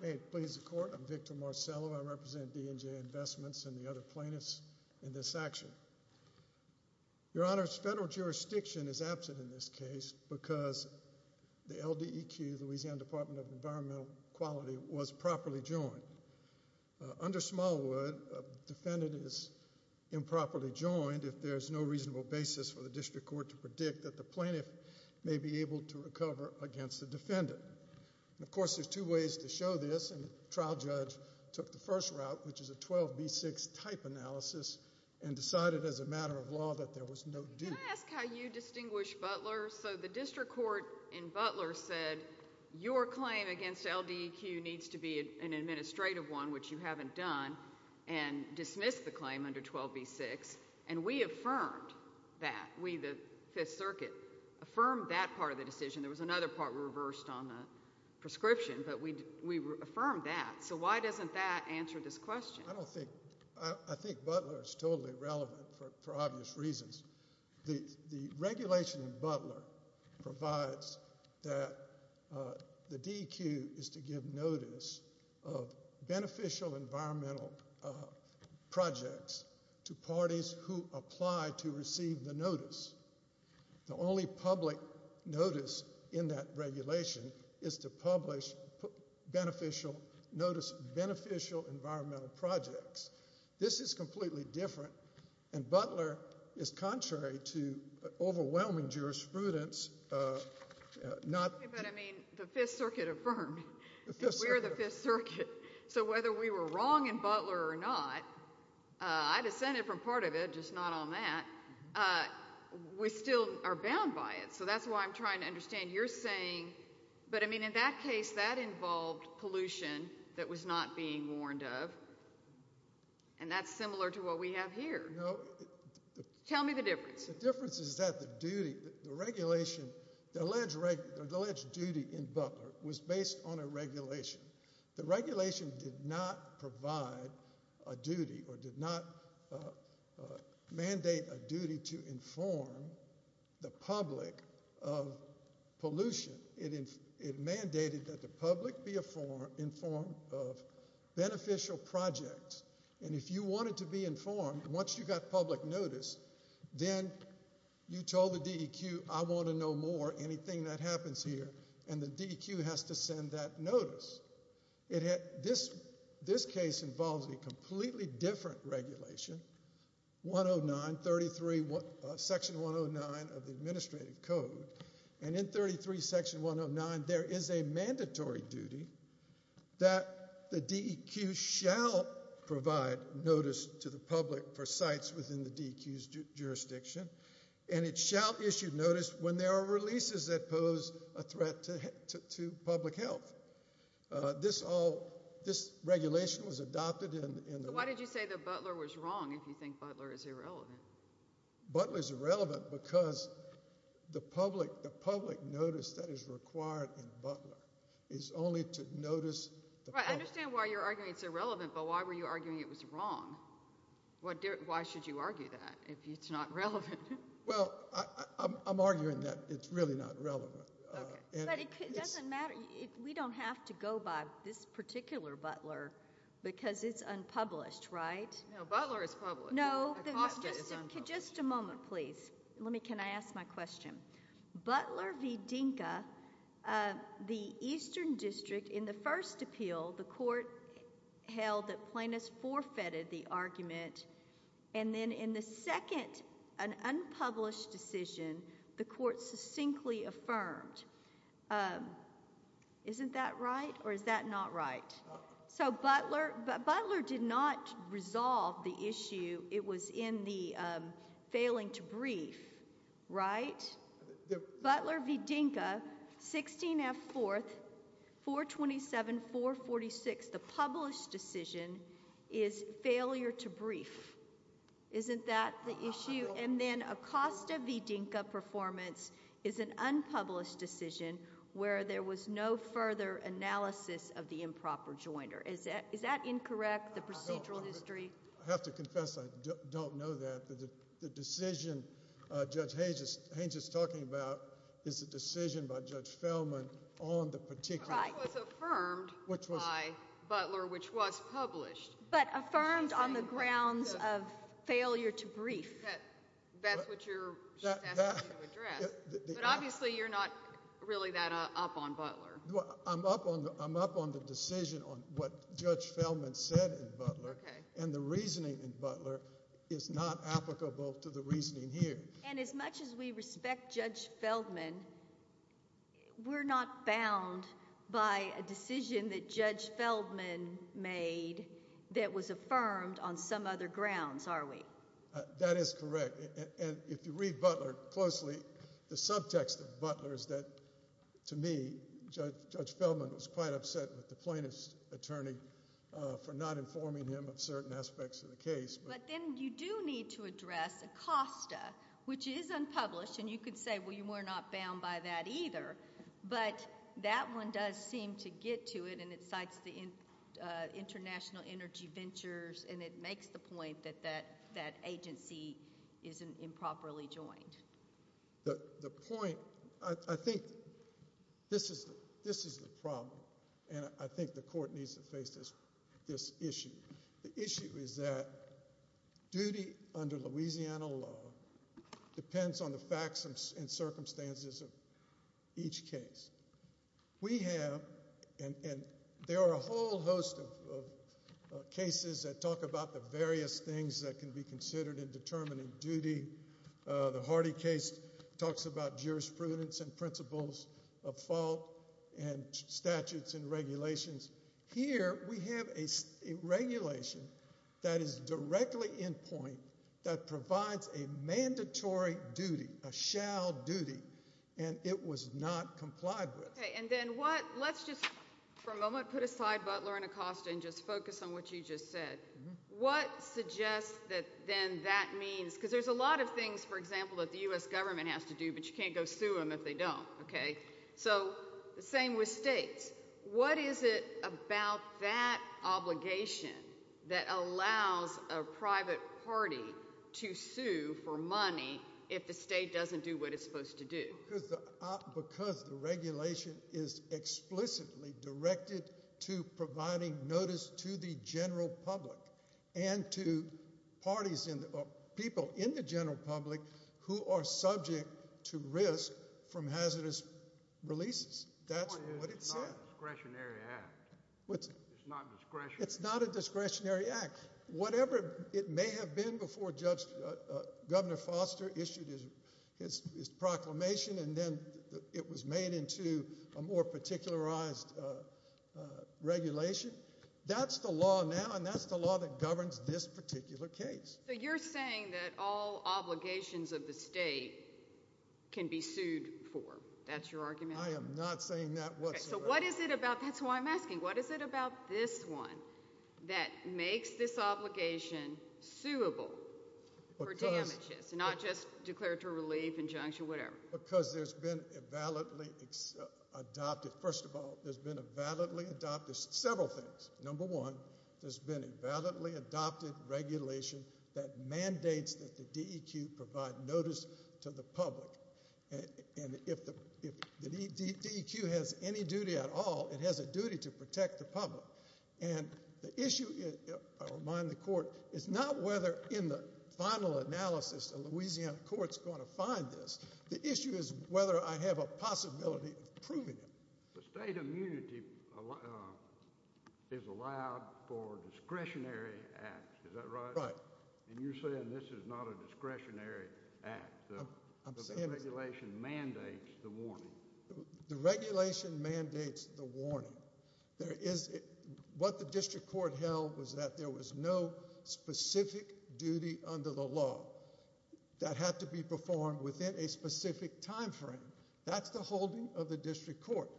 May it please the court. I'm Victor Marcello. I represent D & J Investments and the other plaintiffs in this action. Your Honor, federal jurisdiction is absent in this case because the LDEQ, Louisiana Department of Environmental Quality, was properly joined. Under Smallwood, a defendant is improperly joined if there's no reasonable basis for the district court to predict that the plaintiff may be able to recover against the defendant. Of course, there's two ways to show this, and the trial judge took the first route, which is a 12b6 type analysis, and decided as a matter of law that there was no deal. Can I ask how you distinguish Butler? So the district court in Butler said your claim against LDEQ needs to be an administrative one, which you haven't done, and dismissed the claim under 12b6, and we affirmed that. We, the Fifth Circuit, affirmed that part of the decision. There was another part reversed on the prescription, but we affirmed that. So why doesn't that answer this question? I don't think, I think Butler is totally irrelevant for obvious reasons. The regulation in Butler provides that the DEQ is to give notice of beneficial environmental projects to parties who apply to receive the notice. The only public notice in that regulation is to publish beneficial, notice beneficial environmental projects. This is completely different, and Butler is contrary to overwhelming jurisprudence. But I mean, the Fifth Circuit affirmed. We're the Fifth Circuit, so whether we were wrong in Butler or not, I dissented from part of it, just not on that, we still are bound by it. So that's why I'm trying to understand you're saying, but I mean in that case, that involved pollution that was not being warned of, and that's similar to what we have here. Tell me the difference. The difference is that the duty, the regulation, the alleged duty in the regulation, the regulation did not provide a duty or did not mandate a duty to inform the public of pollution. It mandated that the public be informed of beneficial projects, and if you wanted to be informed, once you got public notice, then you told the DEQ, I want to know more, anything that happens here, and the DEQ has to send that notice. This case involves a completely different regulation, Section 109 of the Administrative Code, and in Section 109, there is a mandatory duty that the DEQ shall provide notice to the public for sites within the DEQ's jurisdiction, and it shall issue notice when there are releases that pose a threat to public health. This all, this regulation was adopted. Why did you say that Butler was wrong if you think Butler is irrelevant? Butler is irrelevant because the public, the public notice that is required in Butler is only to notice. I understand why you're arguing it's irrelevant, but why were you arguing it was wrong? Why should you argue that if it's not relevant? Well, I'm arguing that it's really not relevant. We don't have to go by this particular Butler because it's unpublished, right? No, Butler is public. No, just a moment, please. Let me, can I ask my question? Butler v. Dinka, the Eastern District, in the first appeal, the court held that plaintiffs forfeited the argument, and then in the second, an unpublished decision, the court succinctly affirmed. Isn't that right, or is that not right? So Butler, Butler did not resolve the issue. It was in the published decision is failure to brief. Isn't that the issue? And then Acosta v. Dinka performance is an unpublished decision where there was no further analysis of the improper jointer. Is that, is that incorrect, the procedural history? I have to confess I don't know that. The decision Judge Haynes is talking about is a decision by Judge Feldman on the particular. It was affirmed by, Butler, which was published. But affirmed on the grounds of failure to brief. That's what you're asking to address. But obviously you're not really that up on Butler. Well, I'm up on, I'm up on the decision on what Judge Feldman said in Butler, and the reasoning in Butler is not applicable to the reasoning here. And as much as we respect Judge Feldman, we're not bound by a decision that Judge Feldman made that was affirmed on some other grounds, are we? That is correct, and if you read Butler closely, the subtext of Butler is that, to me, Judge Feldman was quite upset with the plaintiff's attorney for not informing him of certain aspects of the case. But then you do need to address Acosta, which is unpublished, and you could say, well, you are not bound by that either. But that one does seem to get to it, and it cites the International Energy Ventures, and it makes the point that that agency isn't improperly joined. The point, I think this is the problem, and I think the court needs to face this issue. The issue is that duty under Louisiana law depends on the facts and circumstances of each case. We have, and there are a whole host of cases that talk about the various things that can be considered in determining duty. The Hardy case talks about jurisprudence and principles of fault and statutes and regulations. Here, we have a regulation that is directly in point that provides a mandatory duty, a shall duty, and it was not complied with. Okay, and then what, let's just for a moment put aside Butler and Acosta and just focus on what you just said. What suggests that then that means, because there's a lot of things, for example, that the U.S. government has to do, but you can't go sue them if they don't, okay? So, the same with states. What is it about that obligation that allows a private party to sue for money if the state doesn't do what it's supposed to do? Because the regulation is explicitly directed to providing notice to the general public and to parties and people in the general public who are subject to risk from hazardous releases. That's not a discretionary act. It's not a discretionary act. Whatever it may have been before Governor Foster issued his proclamation and then it was made into a more particularized regulation, that's the law now and that's the law that governs this particular case. So, you're saying that all obligations of the state can be sued for, that's your argument? I am not saying that whatsoever. So, what is it about, that's why I'm asking, what is it about this one that makes this obligation suable for damages, not just declaratory relief, injunction, whatever? Because there's been a validly adopted, first of all, there's been a validly adopted several things. Number one, there's been a validly adopted that the DEQ provide notice to the public and if the DEQ has any duty at all, it has a duty to protect the public and the issue, I remind the court, is not whether in the final analysis a Louisiana court's going to find this. The issue is whether I have a possibility of proving it. The state immunity is allowed for discretionary acts, is that right? Right. And you're saying this is not a discretionary act, the regulation mandates the warning. The regulation mandates the warning. There is, what the district court held was that there was no specific duty under the law that had to be performed within a specific timeframe. That's the holding of the district court.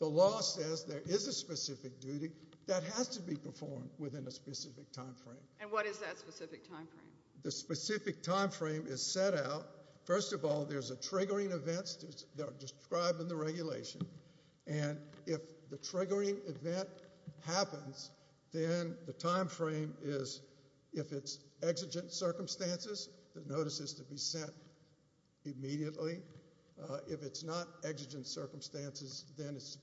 The law says there is a specific duty that has to be performed within a specific timeframe. And what is that specific timeframe? The specific timeframe is set out, first of all, there's a triggering events that are described in the regulation and if the triggering event happens, then the timeframe is, if it's exigent circumstances, the notice is to be sent immediately. If it's not exigent circumstances, then it's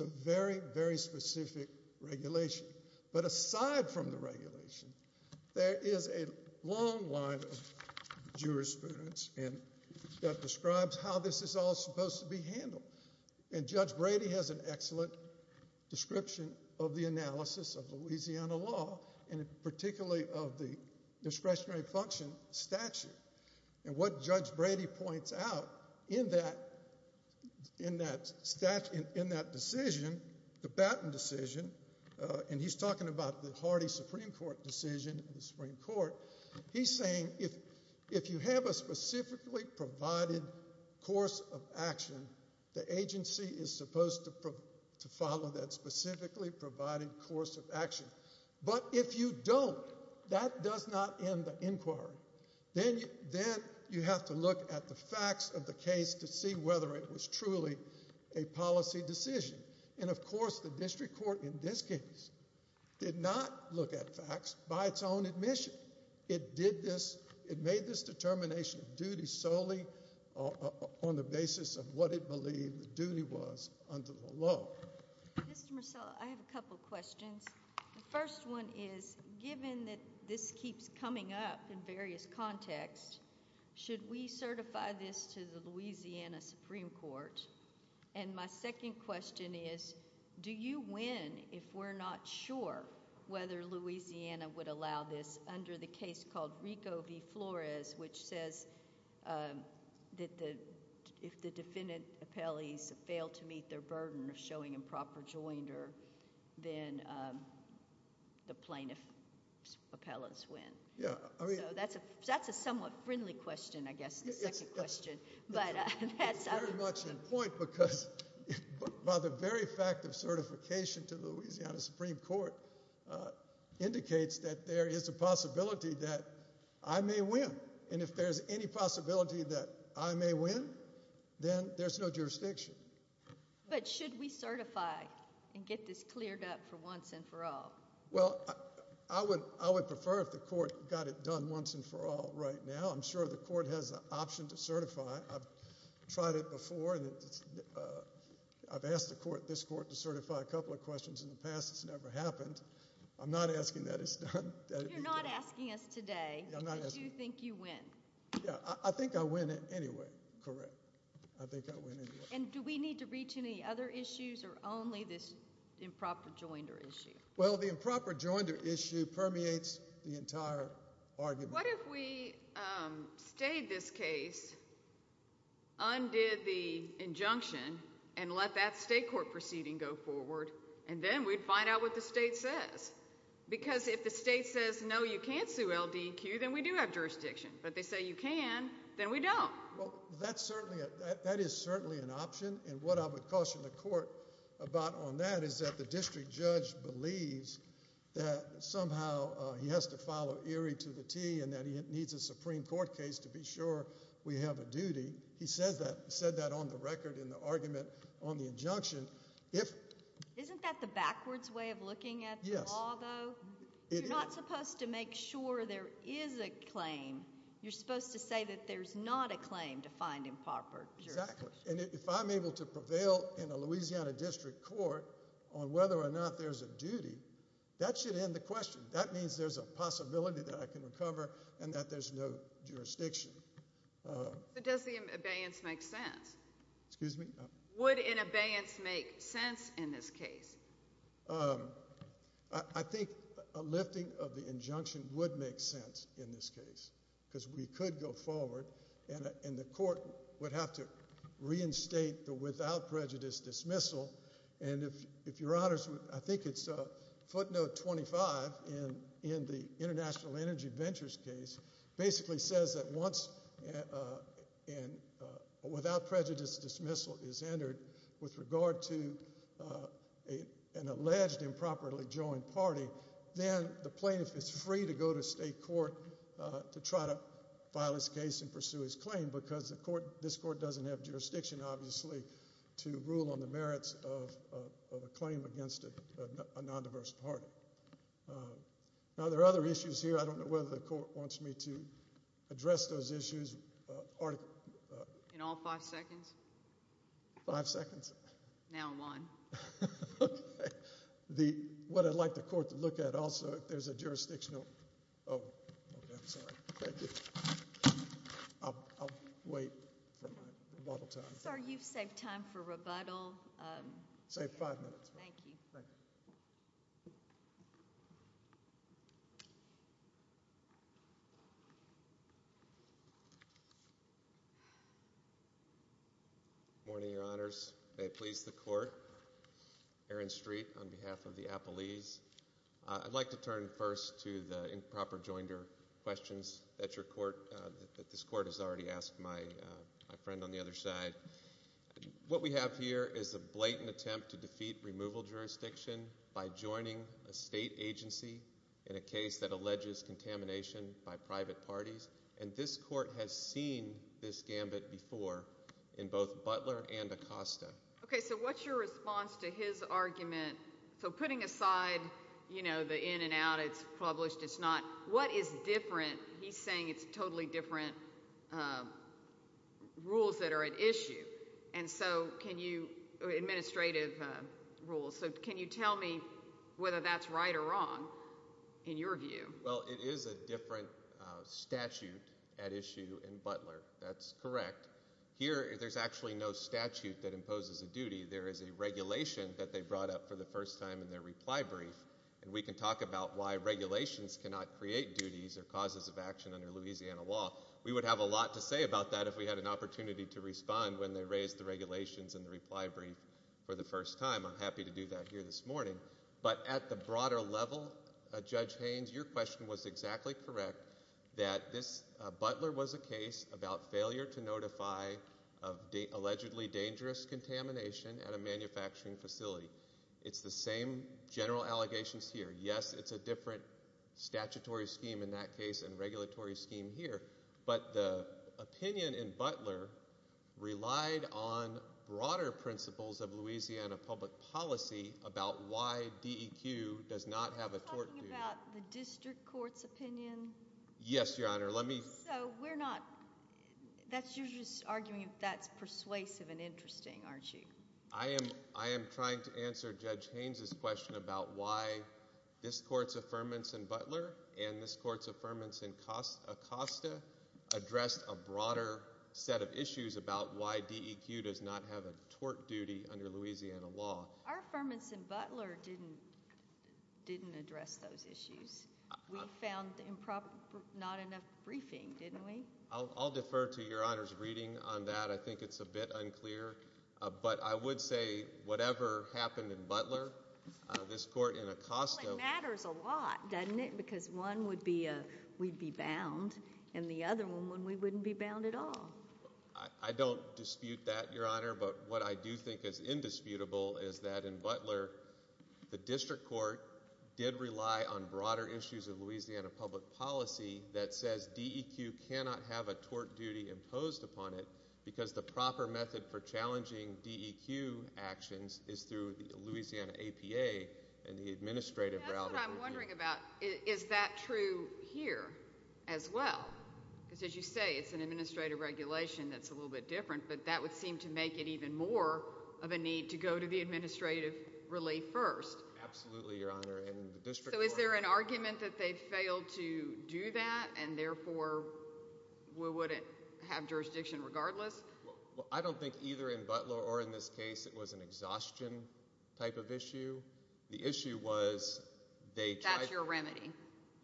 a very, very specific regulation. But aside from the regulation, there is a long line of jurisprudence that describes how this is all supposed to be handled. And Judge Brady has an excellent description of the analysis of Louisiana law and particularly of the discretionary function statute. And what the baton decision, and he's talking about the Hardy Supreme Court decision in the Supreme Court, he's saying if you have a specifically provided course of action, the agency is supposed to follow that specifically provided course of action. But if you don't, that does not end the inquiry. Then you have to look at the facts of the case to see whether it was truly a policy decision. And of course, the district court in this case did not look at facts by its own admission. It did this. It made this determination of duty solely on the basis of what it believed the duty was under the law. Mr Marcella, I have a couple of questions. The first one is given that this keeps coming up in the media, we certify this to the Louisiana Supreme Court. And my second question is, do you win if we're not sure whether Louisiana would allow this under the case called Rico v. Flores, which says that if the defendant appellees fail to meet their burden of showing improper joinder, then the plaintiff's appellants win. So that's a somewhat friendly question, I guess, the second question, but that's very much in point because by the very fact of certification to Louisiana Supreme Court, uh, indicates that there is a possibility that I may win. And if there's any possibility that I may win, then there's no jurisdiction. But should we certify and get this cleared up for once and for all? Well, I would. I would prefer if the court got it done once and for all. Right now, I'm sure the court has an option to certify. I've tried it before. Uh, I've asked the court this court to certify a couple of questions in the past. It's never happened. I'm not asking that it's not asking us today. Do you think you win? I think I win it anyway. Correct. I think I win. And do we need to reach any other issues or only this improper joinder issue? Well, the improper joinder issue permeates the entire argument. What if we, um, stayed this case undid the injunction and let that state court proceeding go forward? And then we'd find out what the state says. Because if the state says no, you can't sue L. D. Q. Then we do have jurisdiction. But they say you can then we don't. That's certainly that is certainly an option. And what I would caution the court about on that is that the district judge believes that how he has to follow eerie to the T and that he needs a Supreme Court case to be sure we have a duty. He says that said that on the record in the argument on the injunction. If isn't that the backwards way of looking at? Yes, although you're not supposed to make sure there is a claim, you're supposed to say that there's not a claim to find improper. Exactly. And if I'm able to prevail in a Louisiana district court on whether or not there's a duty, that should end the question. That means there's a possibility that I can recover and that there's no jurisdiction. Uh, does the abeyance make sense? Excuse me? Would in abeyance make sense in this case? Um, I think a lifting of the injunction would make sense in this case because we could go forward and the court would have to reinstate the without prejudice dismissal. And if if your honors, I think it's a footnote 25 in in the International Energy Ventures case basically says that once uh and uh without prejudice dismissal is entered with regard to uh an alleged improperly joined party, then the plaintiff is free to go to state court to try to file his case and pursue his claim because the court this court doesn't have jurisdiction obviously to rule on the merits of of a claim against a non diverse party. Uh, now there are other issues here. I don't know whether the court wants me to address those issues. Uh, in all five seconds, five seconds now in line. Okay. The what I'd like the court to look at. Also, if there's a jurisdictional, oh, I'm sorry. Thank you. Sorry. You've saved time for rebuttal. Um, say five minutes. Thank you. Morning. Your honors. They please the court. Aaron Street on behalf of the Apple ease. I'd like to turn first to the improper joined her questions that your court that this court has already asked my friend on the other side. What we have here is a blatant attempt to defeat removal jurisdiction by joining a state agency in a case that alleges contamination by private parties. And this court has seen this gambit before in both Butler and Acosta. Okay. So what's your response to his argument? So putting aside, you know, the in and out, it's published. It's not what is different. He's saying it's totally different. Uh, rules that are at issue. And so can you administrative rules? So can you tell me whether that's right or wrong in your view? Well, it is a different statute at issue in Butler. That's correct. Here, there's actually no statute that imposes a duty. There is a regulation that they brought up for the first time in their reply brief, and we can talk about why regulations cannot create duties or causes of action under Louisiana law. We would have a lot to say about that if we had an opportunity to respond when they raised the regulations in the reply brief for the first time. I'm happy to do that here this morning. But at the broader level, Judge Haynes, your question was exactly correct that this Butler was a case about failure to notify of allegedly dangerous contamination at a manufacturing facility. It's the same general allegations here. Yes, it's a different statutory scheme in that case and regulatory scheme here. But the opinion in Butler relied on broader principles of Louisiana public policy about why D. E. Q. Does not have a court about the district court's opinion. Yes, Your Honor. Let me so we're not. That's you're just arguing that's persuasive and interesting, aren't you? I am. I am trying to answer Judge Haynes's question about why this court's affirmance and Butler and this court's affirmance and cost Acosta addressed a broader set of issues about why D. E. Q. Does not have a tort duty under Louisiana law. Our firm instant Butler didn't didn't address those issues. We found improper. Not enough briefing, didn't we? I'll defer to Your Honor's reading on that. I think it's a bit unclear, but I would say whatever happened in Butler, this court in a cost of matters a lot, doesn't it? Because one would be we'd be bound and the other one when we wouldn't be bound at all. I don't dispute that, Your Honor. But what I do think is indisputable is that in Butler, the district court did rely on broader issues of Louisiana public policy that says D. E. Q. Cannot have a tort duty imposed upon it because the proper method for challenging D. E. Q. Actions is through Louisiana A. P. A. And the administrative route I'm wondering about. Is that true here as well? Because as you say, it's an administrative regulation that's a little bit different, but that would seem to make it even more of a need to go to the administrative relief first. Absolutely, Your Honor. And so is there an argument that they failed to do that and therefore we wouldn't have I don't think either in Butler or in this case it was an exhaustion type of issue. The issue was they got your remedy.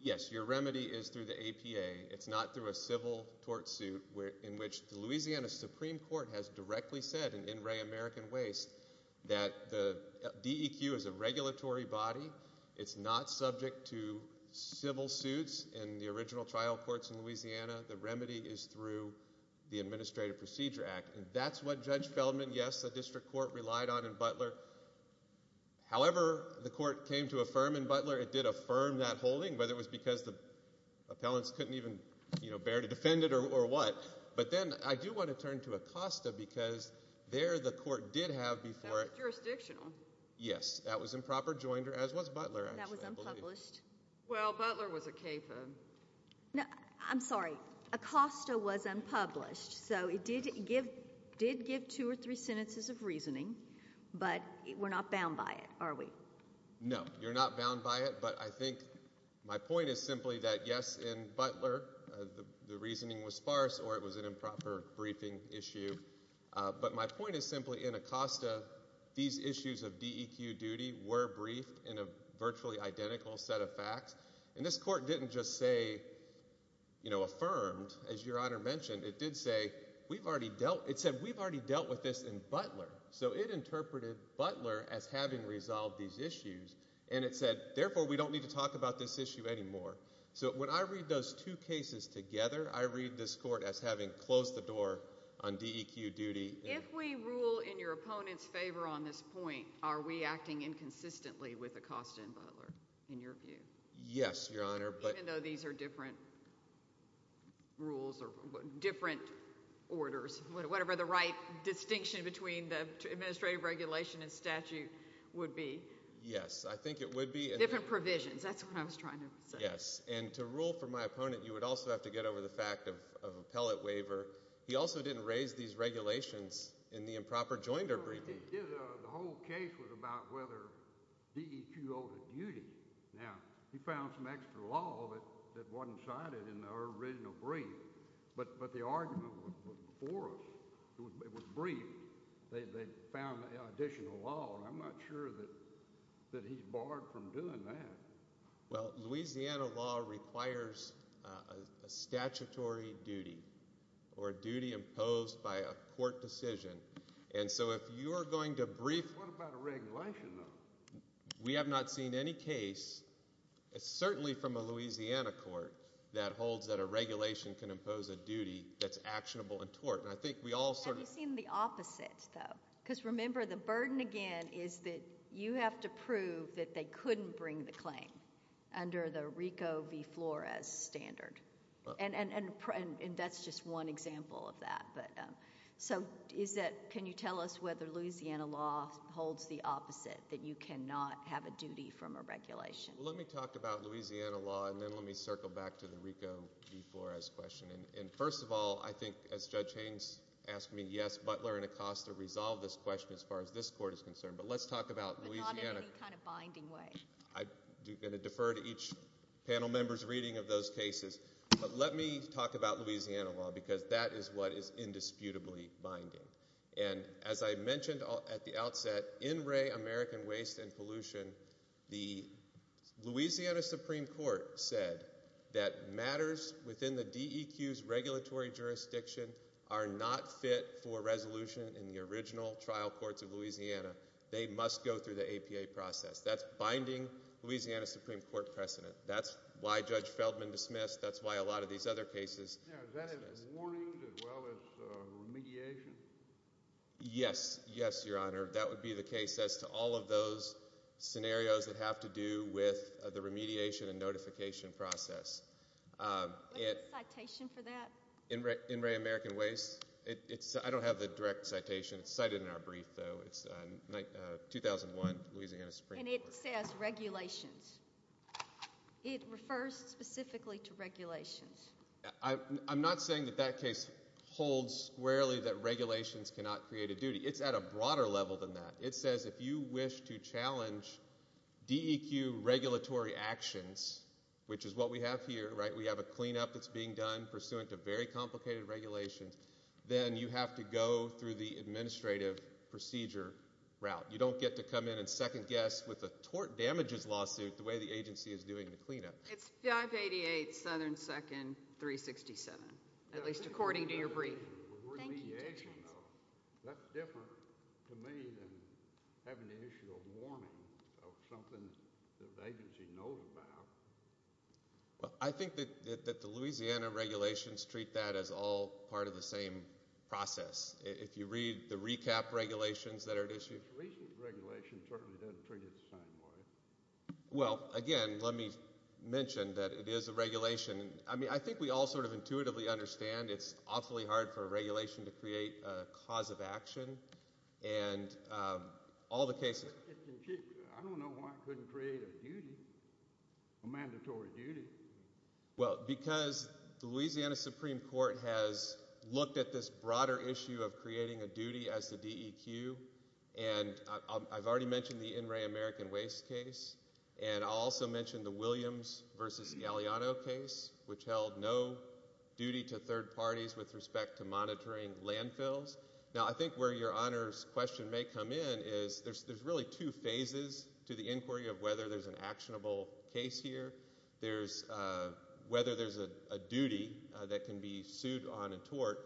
Yes, your remedy is through the A. P. A. It's not through a civil tort suit in which the Louisiana Supreme Court has directly said in Ray American Waste that the D. E. Q. Is a regulatory body. It's not subject to civil suits in the original trial courts in Louisiana. The remedy is through the Administrative Procedure Act. And that's what Judge Feldman. Yes, the district court relied on in Butler. However, the court came to affirm in Butler. It did affirm that holding whether it was because the appellants couldn't even bear to defend it or or what. But then I do want to turn to Acosta because there the court did have before it jurisdictional. Yes, that was improper joined her as was Butler. That was unpublished. Well, Butler was a capo. No, I'm sorry. Acosta was unpublished. So it did give did give two or three sentences of reasoning. But we're not bound by it, are we? No, you're not bound by it. But I think my point is simply that yes, in Butler, the reasoning was sparse or it was an improper briefing issue. But my point is simply in Acosta. These issues of D. E. Q. Duty were briefed in a virtually identical set of facts. And this court didn't just say, you know, affirmed as your honor mentioned, it did say we've already dealt. It said we've already dealt with this in Butler. So it interpreted Butler as having resolved these issues. And it said, therefore, we don't need to talk about this issue anymore. So when I read those two cases together, I read this court as having closed the door on D. E. Q. Duty. If we rule in your opponent's favor on this point, are we acting inconsistently with Acosta and Butler in your view? Yes, your honor. But even though these are different rules or different orders, whatever the right distinction between the administrative regulation and statute would be. Yes, I think it would be different provisions. That's what I was trying to say. Yes. And to rule for my opponent, you would also have to get over the fact of appellate waiver. He also didn't raise these regulations in the improper joinder briefing. The whole case was about whether D. E. Q. Duty. Now, he found some extra law that wasn't cited in the original brief. But the argument was before us. It was briefed. They found additional law. I'm not sure that that he's barred from doing that. Well, Louisiana law requires a statutory duty or duty imposed by a court decision. And so if you're going to brief, what about a regulation? We have not seen any case. It's certainly from a Louisiana court that holds that a regulation can impose a duty that's actionable and tort. And I think we all sort of seen the opposite, though, because remember, the burden again is that you have to prove that they couldn't bring the claim under the Rico v. Flores standard. And that's just one example of that. But so is that can you tell us whether Louisiana law holds the opposite that you cannot have a duty from a regulation? Let me talk about Louisiana law, and then let me circle back to the Rico before his question. And first of all, I think, as Judge Haynes asked me, Yes, Butler and Acosta resolve this question as far as this court is concerned. But let's talk about Louisiana kind of binding way. I do going to defer to each panel members reading of those cases. But let me talk about Louisiana law, because that is what is indisputably binding. And as I mentioned at the outset in Ray American Waste and Pollution, the Louisiana Supreme Court said that matters within the D. E. Q. S. Regulatory jurisdiction are not fit for resolution in the original trial courts of Louisiana. They must go through the A. P. A. Process. That's binding Louisiana Supreme Court precedent. That's why Judge Feldman dismissed. That's why a lot of these other cases yes, yes, Your Honor. That would be the case as to all of those scenarios that have to do with the remediation and notification process. Um, it citation for that in Ray in Ray American Waste. It's I don't have the direct citation cited in our brief, though. It's 2001 Louisiana Supreme. And it says regulations. It refers specifically to regulations. I'm not saying that that case holds squarely that regulations cannot create a duty. It's at a broader level than that. It says if you wish to challenge D. E. Q. Regulatory actions, which is what we have here, right? We have a cleanup that's being done pursuant to very complicated regulations. Then you have to go through the administrative procedure route. You don't get to come in and second guess with the tort damages lawsuit the way the agency is doing the cleanup. It's 5 88 Southern 2nd 3 67, at least according to your brief. That's different having the initial warning of something the agency knows about. I think that that the Louisiana regulations treat that is all part of the same process. If you read the recap regulations that are at issue regulation, certainly doesn't treat it the same way. Well, again, let me mention that it is a regulation. I mean, I think we all sort of intuitively understand. It's awfully hard for regulation to create cause of action and all the cases. Mandatory duty. Well, because the Louisiana Supreme Court has looked at this broader issue of creating a duty as the D. E. Q. And I've already mentioned the in Ray American Waste case and also mentioned the Williams versus Galeano case, which held no duty to third parties with respect to monitoring landfills. Now, I think where your honors question may come in is there's there's really two phases to the inquiry of whether there's an actionable case here. There's whether there's a duty that can be sued on a could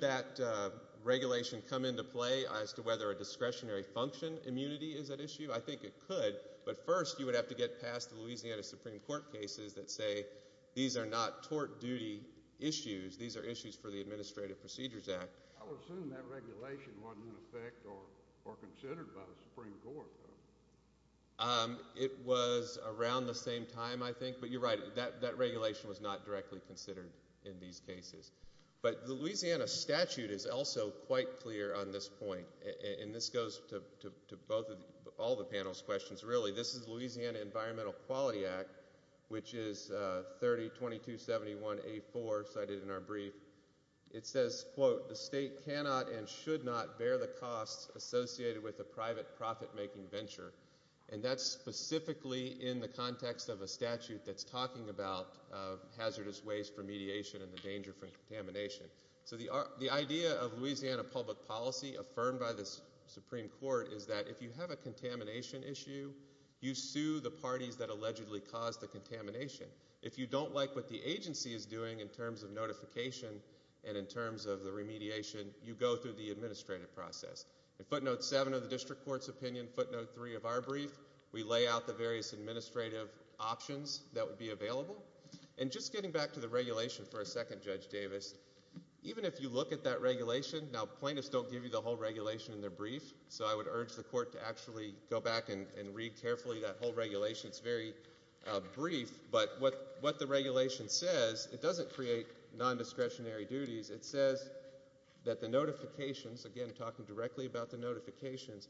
that regulation come into play as to whether a discretionary function immunity is at issue? I think it could. But first, you would have to get past the Louisiana Supreme Court cases that say these are not tort duty issues. These are issues for the Administrative Procedures Act. It was around the same time, I think. But you're right. That regulation was not directly considered in these cases. But the Louisiana statute is also quite clear on this point. And this goes to both of all the panel's questions. Really, this is Louisiana Environmental Quality Act, which is 30 22 71 a four cited in our brief. It says, quote, The state cannot and should not bear the costs associated with a private profit making venture. And that's specifically in the context of a statute that's talking about hazardous waste remediation and the danger from contamination. So the idea of Louisiana public policy affirmed by the Supreme Court is that if you have a contamination issue, you sue the parties that allegedly caused the contamination. If you don't like what the agency is doing in terms of notification and in terms of the remediation, you go through the administrative process. Footnote seven of the district court's opinion. Footnote three of our brief. We lay out the various administrative options that would be available and just getting back to the regulation for a second. Judge Davis, even if you look at that regulation now, plaintiffs don't give you the whole regulation in their brief. So I would urge the court to actually go back and read carefully. That whole regulation is very brief. But what what the regulation says it doesn't create non discretionary duties. It says that the notifications again talking directly about the notifications.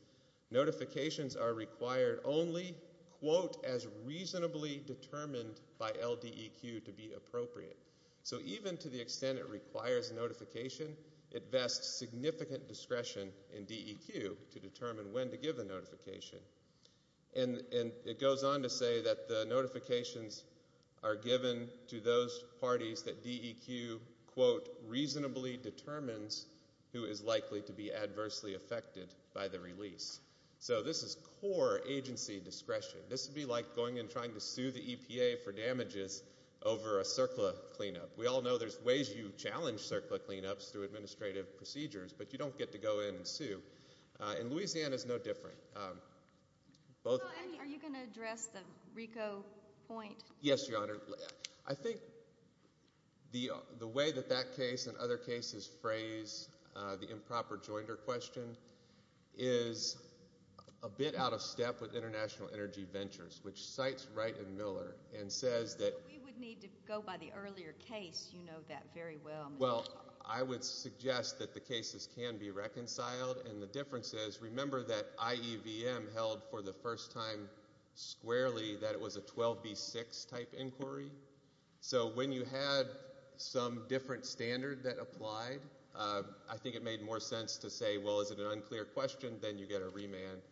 Notifications are required only quote as reasonably determined by L. D. E. Q. To be appropriate. So even to the extent it requires notification, it vests significant discretion in D. E. Q. To determine when to give the notification. And it goes on to say that the notifications are given to those parties that D. E. Q. Quote reasonably determines who is likely to or agency discretion. This would be like going and trying to sue the EPA for damages over a circle of cleanup. We all know there's ways you challenge circle of cleanups through administrative procedures, but you don't get to go in and sue in Louisiana is no different. Um, both. Are you gonna address the Rico point? Yes, Your Honor. I think the way that that case and other cases phrase the improper joinder question is a bit out of step with International Energy Ventures, which sites right and Miller and says that we would need to go by the earlier case. You know that very well. Well, I would suggest that the cases can be reconciled. And the difference is remember that I. E. V. M. Held for the first time squarely that it was a 12 B six type inquiry. So when you had some different standard that applied, I think it made more sense to say, Well, is it an unclear question? Then you get a remand.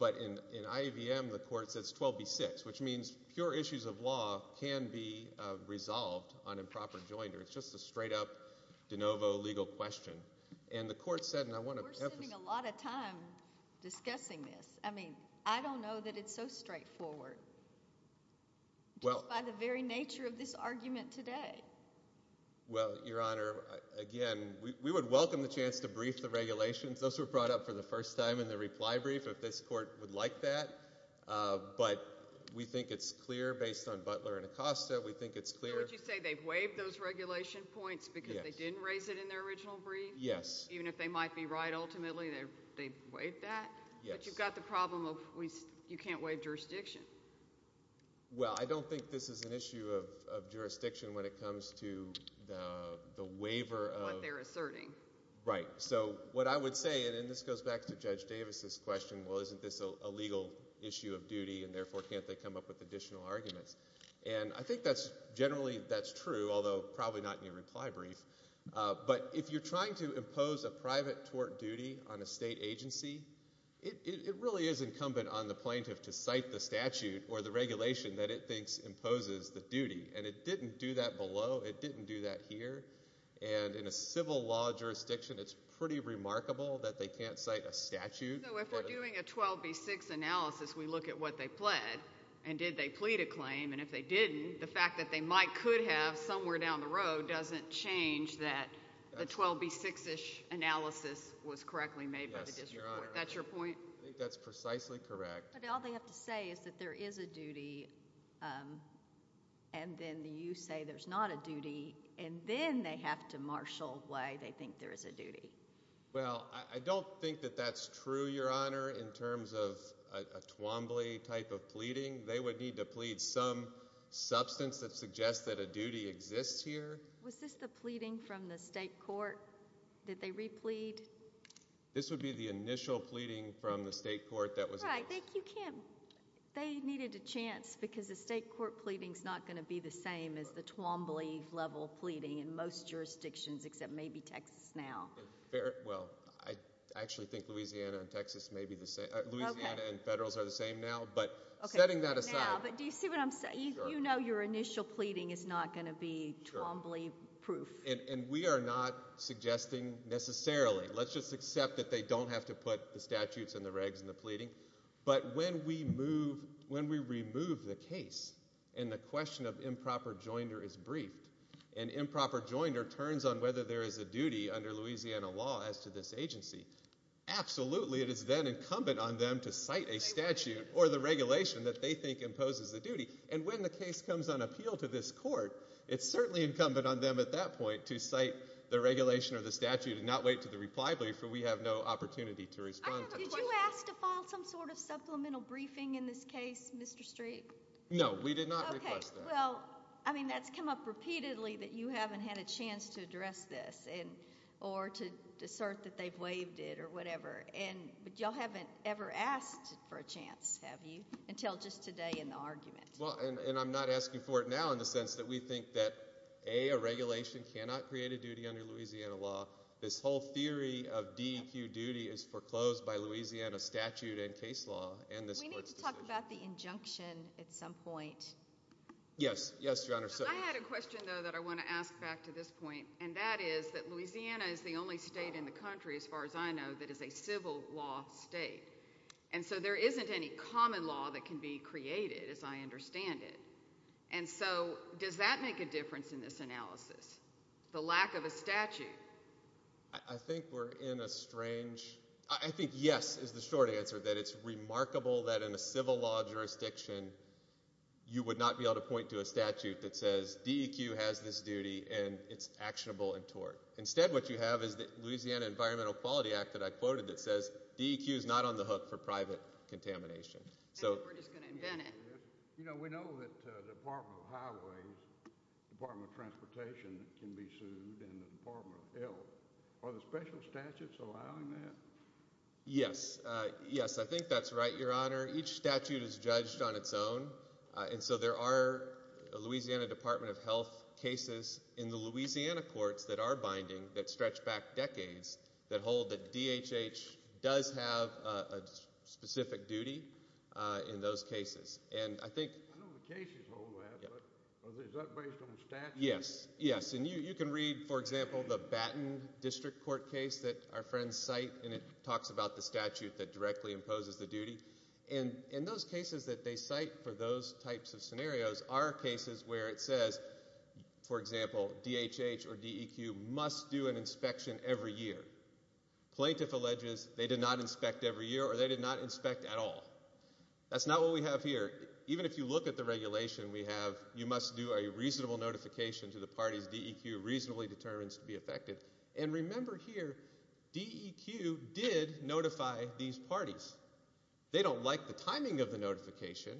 But in in IBM, the court says 12 B six, which means pure issues of law can be resolved on improper joinder. It's just a straight up de novo legal question. And the court said, and I want to spend a lot of time discussing this. I mean, I don't know that it's so straightforward. Well, by the very nature of this argument today. Well, Your Honor, again, we would welcome the chance to brief the regulations. Those were brought up for the first time in the reply brief. If this court would like that, but we think it's clear based on Butler and Acosta. We think it's clear what you say. They've waived those regulation points because they didn't raise it in their original brief. Yes, even if they might be right. Ultimately, they wait that you've got the problem. You can't wait jurisdiction. Well, I don't think this is an issue of jurisdiction when it comes to the what they're asserting. Right. So what I would say, and this goes back to Judge Davis's question. Well, isn't this a legal issue of duty? And therefore, can't they come up with additional arguments? And I think that's generally that's true, although probably not your reply brief. But if you're trying to impose a private tort duty on a state agency, it really is incumbent on the plaintiff to cite the statute or the regulation that it thinks imposes the duty. And it didn't do that below. It didn't do that here. And in a civil law jurisdiction, it's pretty remarkable that they can't cite a statute doing a 12 B six analysis. We look at what they pled and did they plead a claim. And if they didn't, the fact that they might could have somewhere down the road doesn't change that. The 12 B six ish analysis was correctly made. That's your point. That's precisely correct. But all they have to say is that there is a duty. Um, and then you say there's not a duty, and then they have to marshal way. They think there is a duty. Well, I don't think that that's true. Your honor, in terms of a Twombly type of pleading, they would need to plead some substance that suggests that a duty exists here. Was this the pleading from the state court that they replete? This would be the initial pleading from the because the state court pleadings not gonna be the same as the Twombly level pleading in most jurisdictions, except maybe Texas. Now, well, I actually think Louisiana and Texas may be the same. Louisiana and Federals are the same now. But setting that aside, do you see what I'm saying? You know, your initial pleading is not gonna be Twombly proof, and we are not suggesting necessarily. Let's just accept that they don't have to put the statutes and the regs in the When we move, when we remove the case and the question of improper joinder is briefed, an improper joinder turns on whether there is a duty under Louisiana law as to this agency. Absolutely, it is then incumbent on them to cite a statute or the regulation that they think imposes the duty. And when the case comes on appeal to this court, it's certainly incumbent on them at that point to cite the regulation or the statute and not wait to the reply belief. So we have no supplemental briefing in this case, Mr Street? No, we did not. Well, I mean, that's come up repeatedly that you haven't had a chance to address this or to assert that they've waived it or whatever. And you haven't ever asked for a chance. Have you until just today in the argument? And I'm not asking for it now, in the sense that we think that a regulation cannot create a duty under Louisiana law. This whole theory of D. Q. Duty is foreclosed by Louisiana statute and case law. And we need to talk about the injunction at some point. Yes, Yes, Your Honor. So I had a question, though, that I want to ask back to this point, and that is that Louisiana is the only state in the country, as far as I know, that is a civil law state. And so there isn't any common law that could be created as I understand it. And so does that make a difference in this analysis? The lack of a statute? I think we're in a strange I think yes, is the short answer that it's remarkable that in a civil law jurisdiction, you would not be able to point to a statute that says D. Q. Has this duty and it's actionable and tort. Instead, what you have is that Louisiana Environmental Quality Act that I quoted that says D. Q. Is not on the hook for private contamination. So we're just gonna invent it. You know, we know that the Department of Highways Department of Transportation can be yes. Yes, I think that's right, Your Honor. Each statute is judged on its own. And so there are Louisiana Department of Health cases in the Louisiana courts that are binding that stretch back decades that hold the D. H. H. Does have a specific duty in those cases. And I think is that based on the statute? Yes, yes. And you can read, for example, the statute that directly imposes the duty and in those cases that they cite for those types of scenarios are cases where it says, for example, D. H. H. Or D. Q. Must do an inspection every year. Plaintiff alleges they did not inspect every year or they did not inspect at all. That's not what we have here. Even if you look at the regulation we have, you must do a reasonable notification to the parties D. Q. Reasonably determines to be affected. And remember here, D. E. Q. Did notify these parties. They don't like the timing of the notification,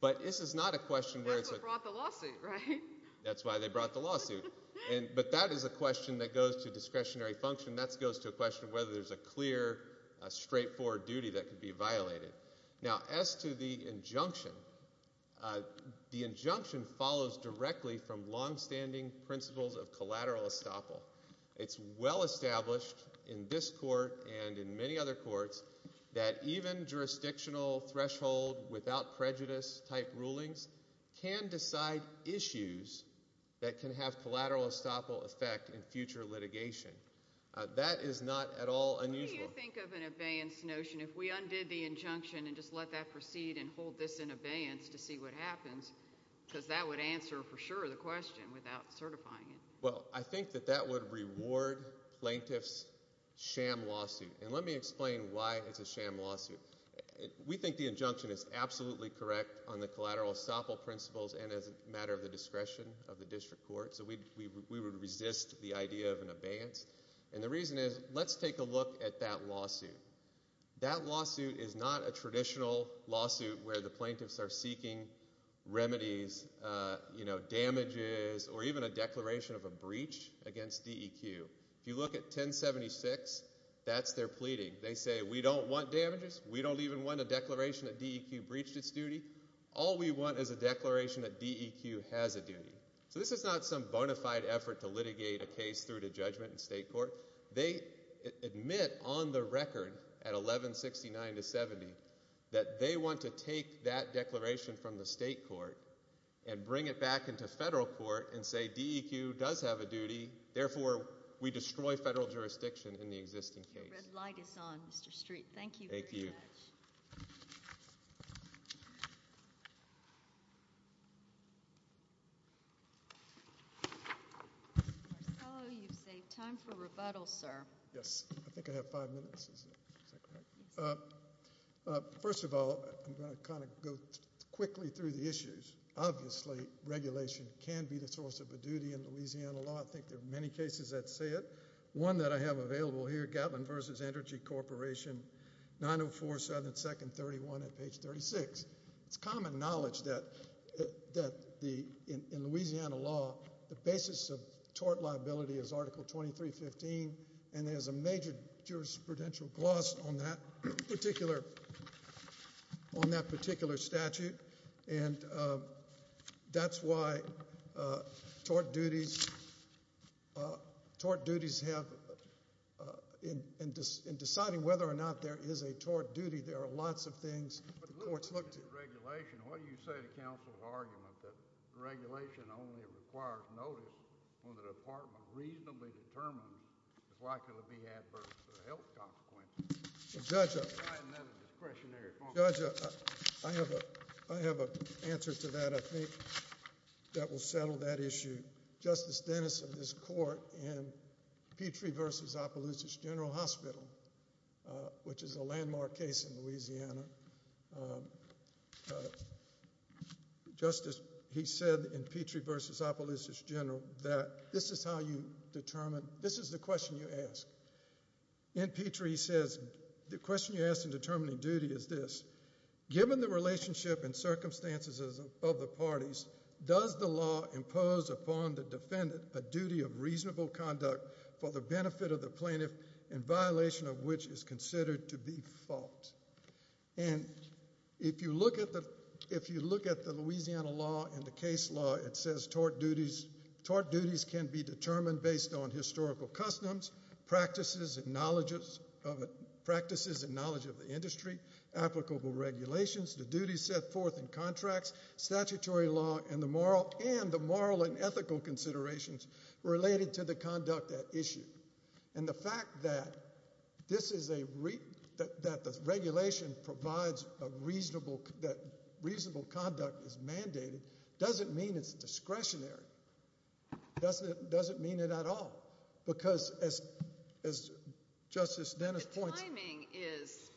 but this is not a question where it's a brought the lawsuit, right? That's why they brought the lawsuit. But that is a question that goes to discretionary function. That's goes to a question of whether there's a clear, straightforward duty that could be violated. Now, as to the injunction, uh, the injunction follows directly from longstanding principles of established in this court and in many other courts that even jurisdictional threshold without prejudice type rulings can decide issues that can have collateral estoppel effect in future litigation. That is not at all unusual. Think of an advanced notion. If we undid the injunction and just let that proceed and hold this in abeyance to see what happens because that would answer for sure the question without certifying it. Well, I think that that would reward plaintiffs sham lawsuit. And let me explain why it's a sham lawsuit. We think the injunction is absolutely correct on the collateral estoppel principles and as a matter of the discretion of the district court. So we we would resist the idea of an advance. And the reason is, let's take a look at that lawsuit. That lawsuit is not a traditional lawsuit where the plaintiffs are seeking remedies, uh, you know, damages or even a declaration of breach against D. E. Q. If you look at 10 76, that's their pleading. They say we don't want damages. We don't even want a declaration that D. E. Q. Breached its duty. All we want is a declaration that D. E. Q. Has a duty. So this is not some bona fide effort to litigate a case through the judgment in state court. They admit on the record at 11 69 to 70 that they want to take that declaration from the state court and bring it back into federal court and say D. E. Q. Does have a duty. Therefore, we destroy federal jurisdiction in the existing case. Light is on Mr Street. Thank you. Thank you. So you say time for rebuttal, sir. Yes, I think I have five minutes. Uh, first of all, I'm gonna kind of go quickly through the issues. Obviously, regulation can be the source of a duty in Louisiana law. I think there are many cases that say it one that I have available here. Gatlin versus Energy Corporation 9047 2nd 31 page 36. It's common knowledge that that the in Louisiana law, the basis of tort liability is Article 23 15. And there's a major jurisprudential gloss on that particular on that particular statute. And, uh, that's why, uh, tort duties, uh, tort duties have, uh, in deciding whether or not there is a tort duty. There are lots of things. What's looked regulation? What do you say? The council argument that regulation only requires notice when the department reasonably determined likely to be adverse help. Judge discretionary judge. I have a I have a answer to that. I think that will settle that issue. Justice Dennis of this court and Petrie versus Appaloosa's General Hospital, which is a landmark case in Louisiana. Um, justice, he said in Petrie versus Appaloosa's General that this is how you determine this is the question you ask in Petrie, says the question you asked in determining duty is this. Given the relationship and circumstances of the parties, does the law impose upon the defendant a duty of reasonable conduct for the benefit of the plaintiff in violation of which is considered to be fault? And if you look at the if you look at the Louisiana law in the case law, it says tort duties. Tort duties can be determined based on historical customs, practices and knowledges of practices and knowledge of the industry. Applicable regulations. The duty set forth in contracts, statutory law and the moral and the moral and ethical considerations related to the conduct that issue. And the fact that this is a that the regulation provides a reasonable that reasonable conduct is mandated doesn't mean it's discretionary. Doesn't doesn't mean it at all. Because as as Justice Dennis points, timing is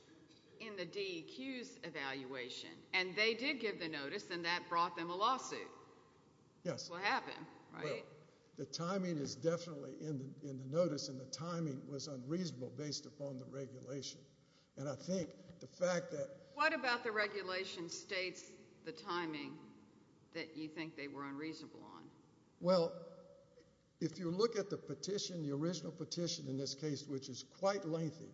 in the D. Q's evaluation and they did give the notice and that brought them a lawsuit. Yes, what happened? Right? The timing is definitely in the notice and the timing was unreasonable based upon the regulation. And I think the fact that what about the regulation states the timing that you think they were unreasonable on? Well, if you look at the petition, the original petition in this case, which is quite lengthy,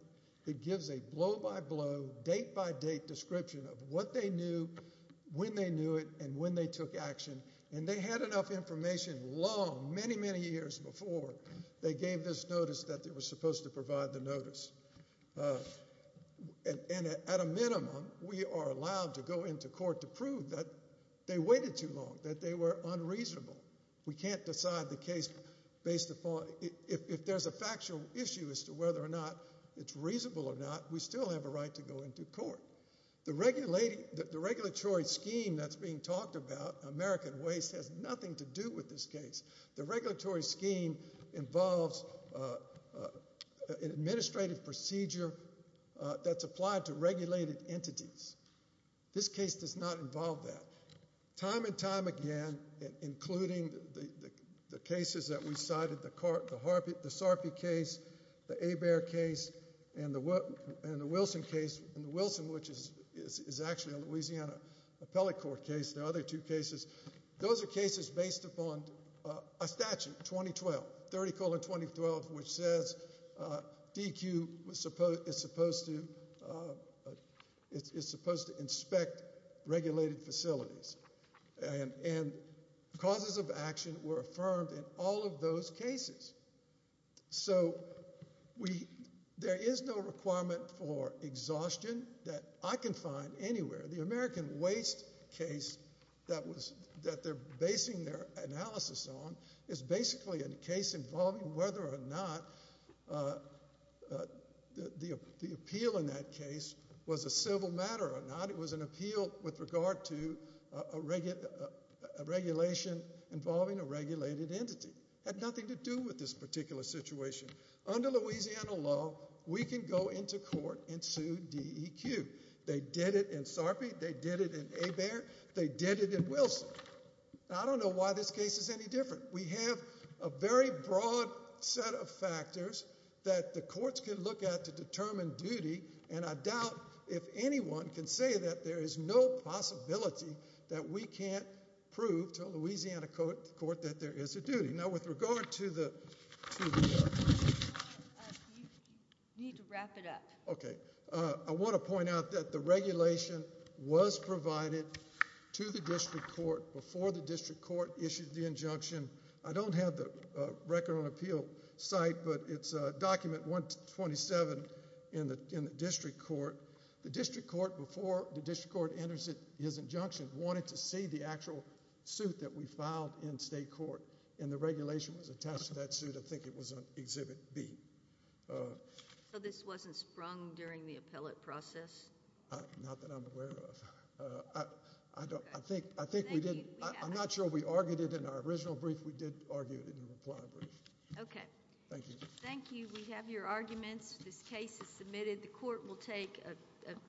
it gives a blow by blow, date by date description of what they knew when they knew it and when they took action and they had enough information long, many, many years before they gave this notice that they were supposed to provide the notice. Uh, and at a minimum, we are allowed to go into court to prove that they waited too long, that they were unreasonable. We can't decide the case based upon if there's a factual issue as to whether or not it's reasonable or not, we still have a right to go into court. The regular lady, the regulatory scheme that's being talked about American waste has nothing to do with this case. The regulatory scheme involves, uh, uh, administrative procedure that's applied to regulated entities. This case does not involve that time and time again, including the cases that we cited, the carpet, the Sarpy case, the a bear case and the and the Wilson case and the Wilson, which is actually a Louisiana appellate court case. The other two cases, those are based upon a statute 2012 30 calling 2012, which says, uh, DQ was supposed is supposed to, uh, it's supposed to inspect regulated facilities and causes of action were affirmed in all of those cases. So we there is no requirement for exhaustion that I can find anywhere. The American waste case that was that they're basing their analysis on is basically a case involving whether or not, uh, the appeal in that case was a civil matter or not. It was an appeal with regard to a regular regulation involving a regulated entity had nothing to do with this particular situation. Under Louisiana law, we can go into court and sue D. E. Q. They did it in Sarpy. They did it in a bear. They did it in Wilson. I don't know why this case is any different. We have a very broad set of factors that the courts can look at to determine duty, and I doubt if anyone can say that there is no possibility that we can't prove to Louisiana court court that there is a duty now with regard to the need to wrap it up. Okay, I want to point out that the regulation was provided to the district court before the district court issued the injunction. I don't have the record on appeal site, but it's a document 127 in the district court. The district court before the district court enters it is injunction wanted to see the actual suit that we filed in state court, and the regulation was attached to that suit. I think it was on exhibit B. So this wasn't sprung during the appellate process. Not that I'm aware of. I don't. I think I think we did. I'm not sure we argued it in our original brief. We did argue it in the reply brief. Okay, thank you. Thank you. We have your arguments. This case is submitted. The court will take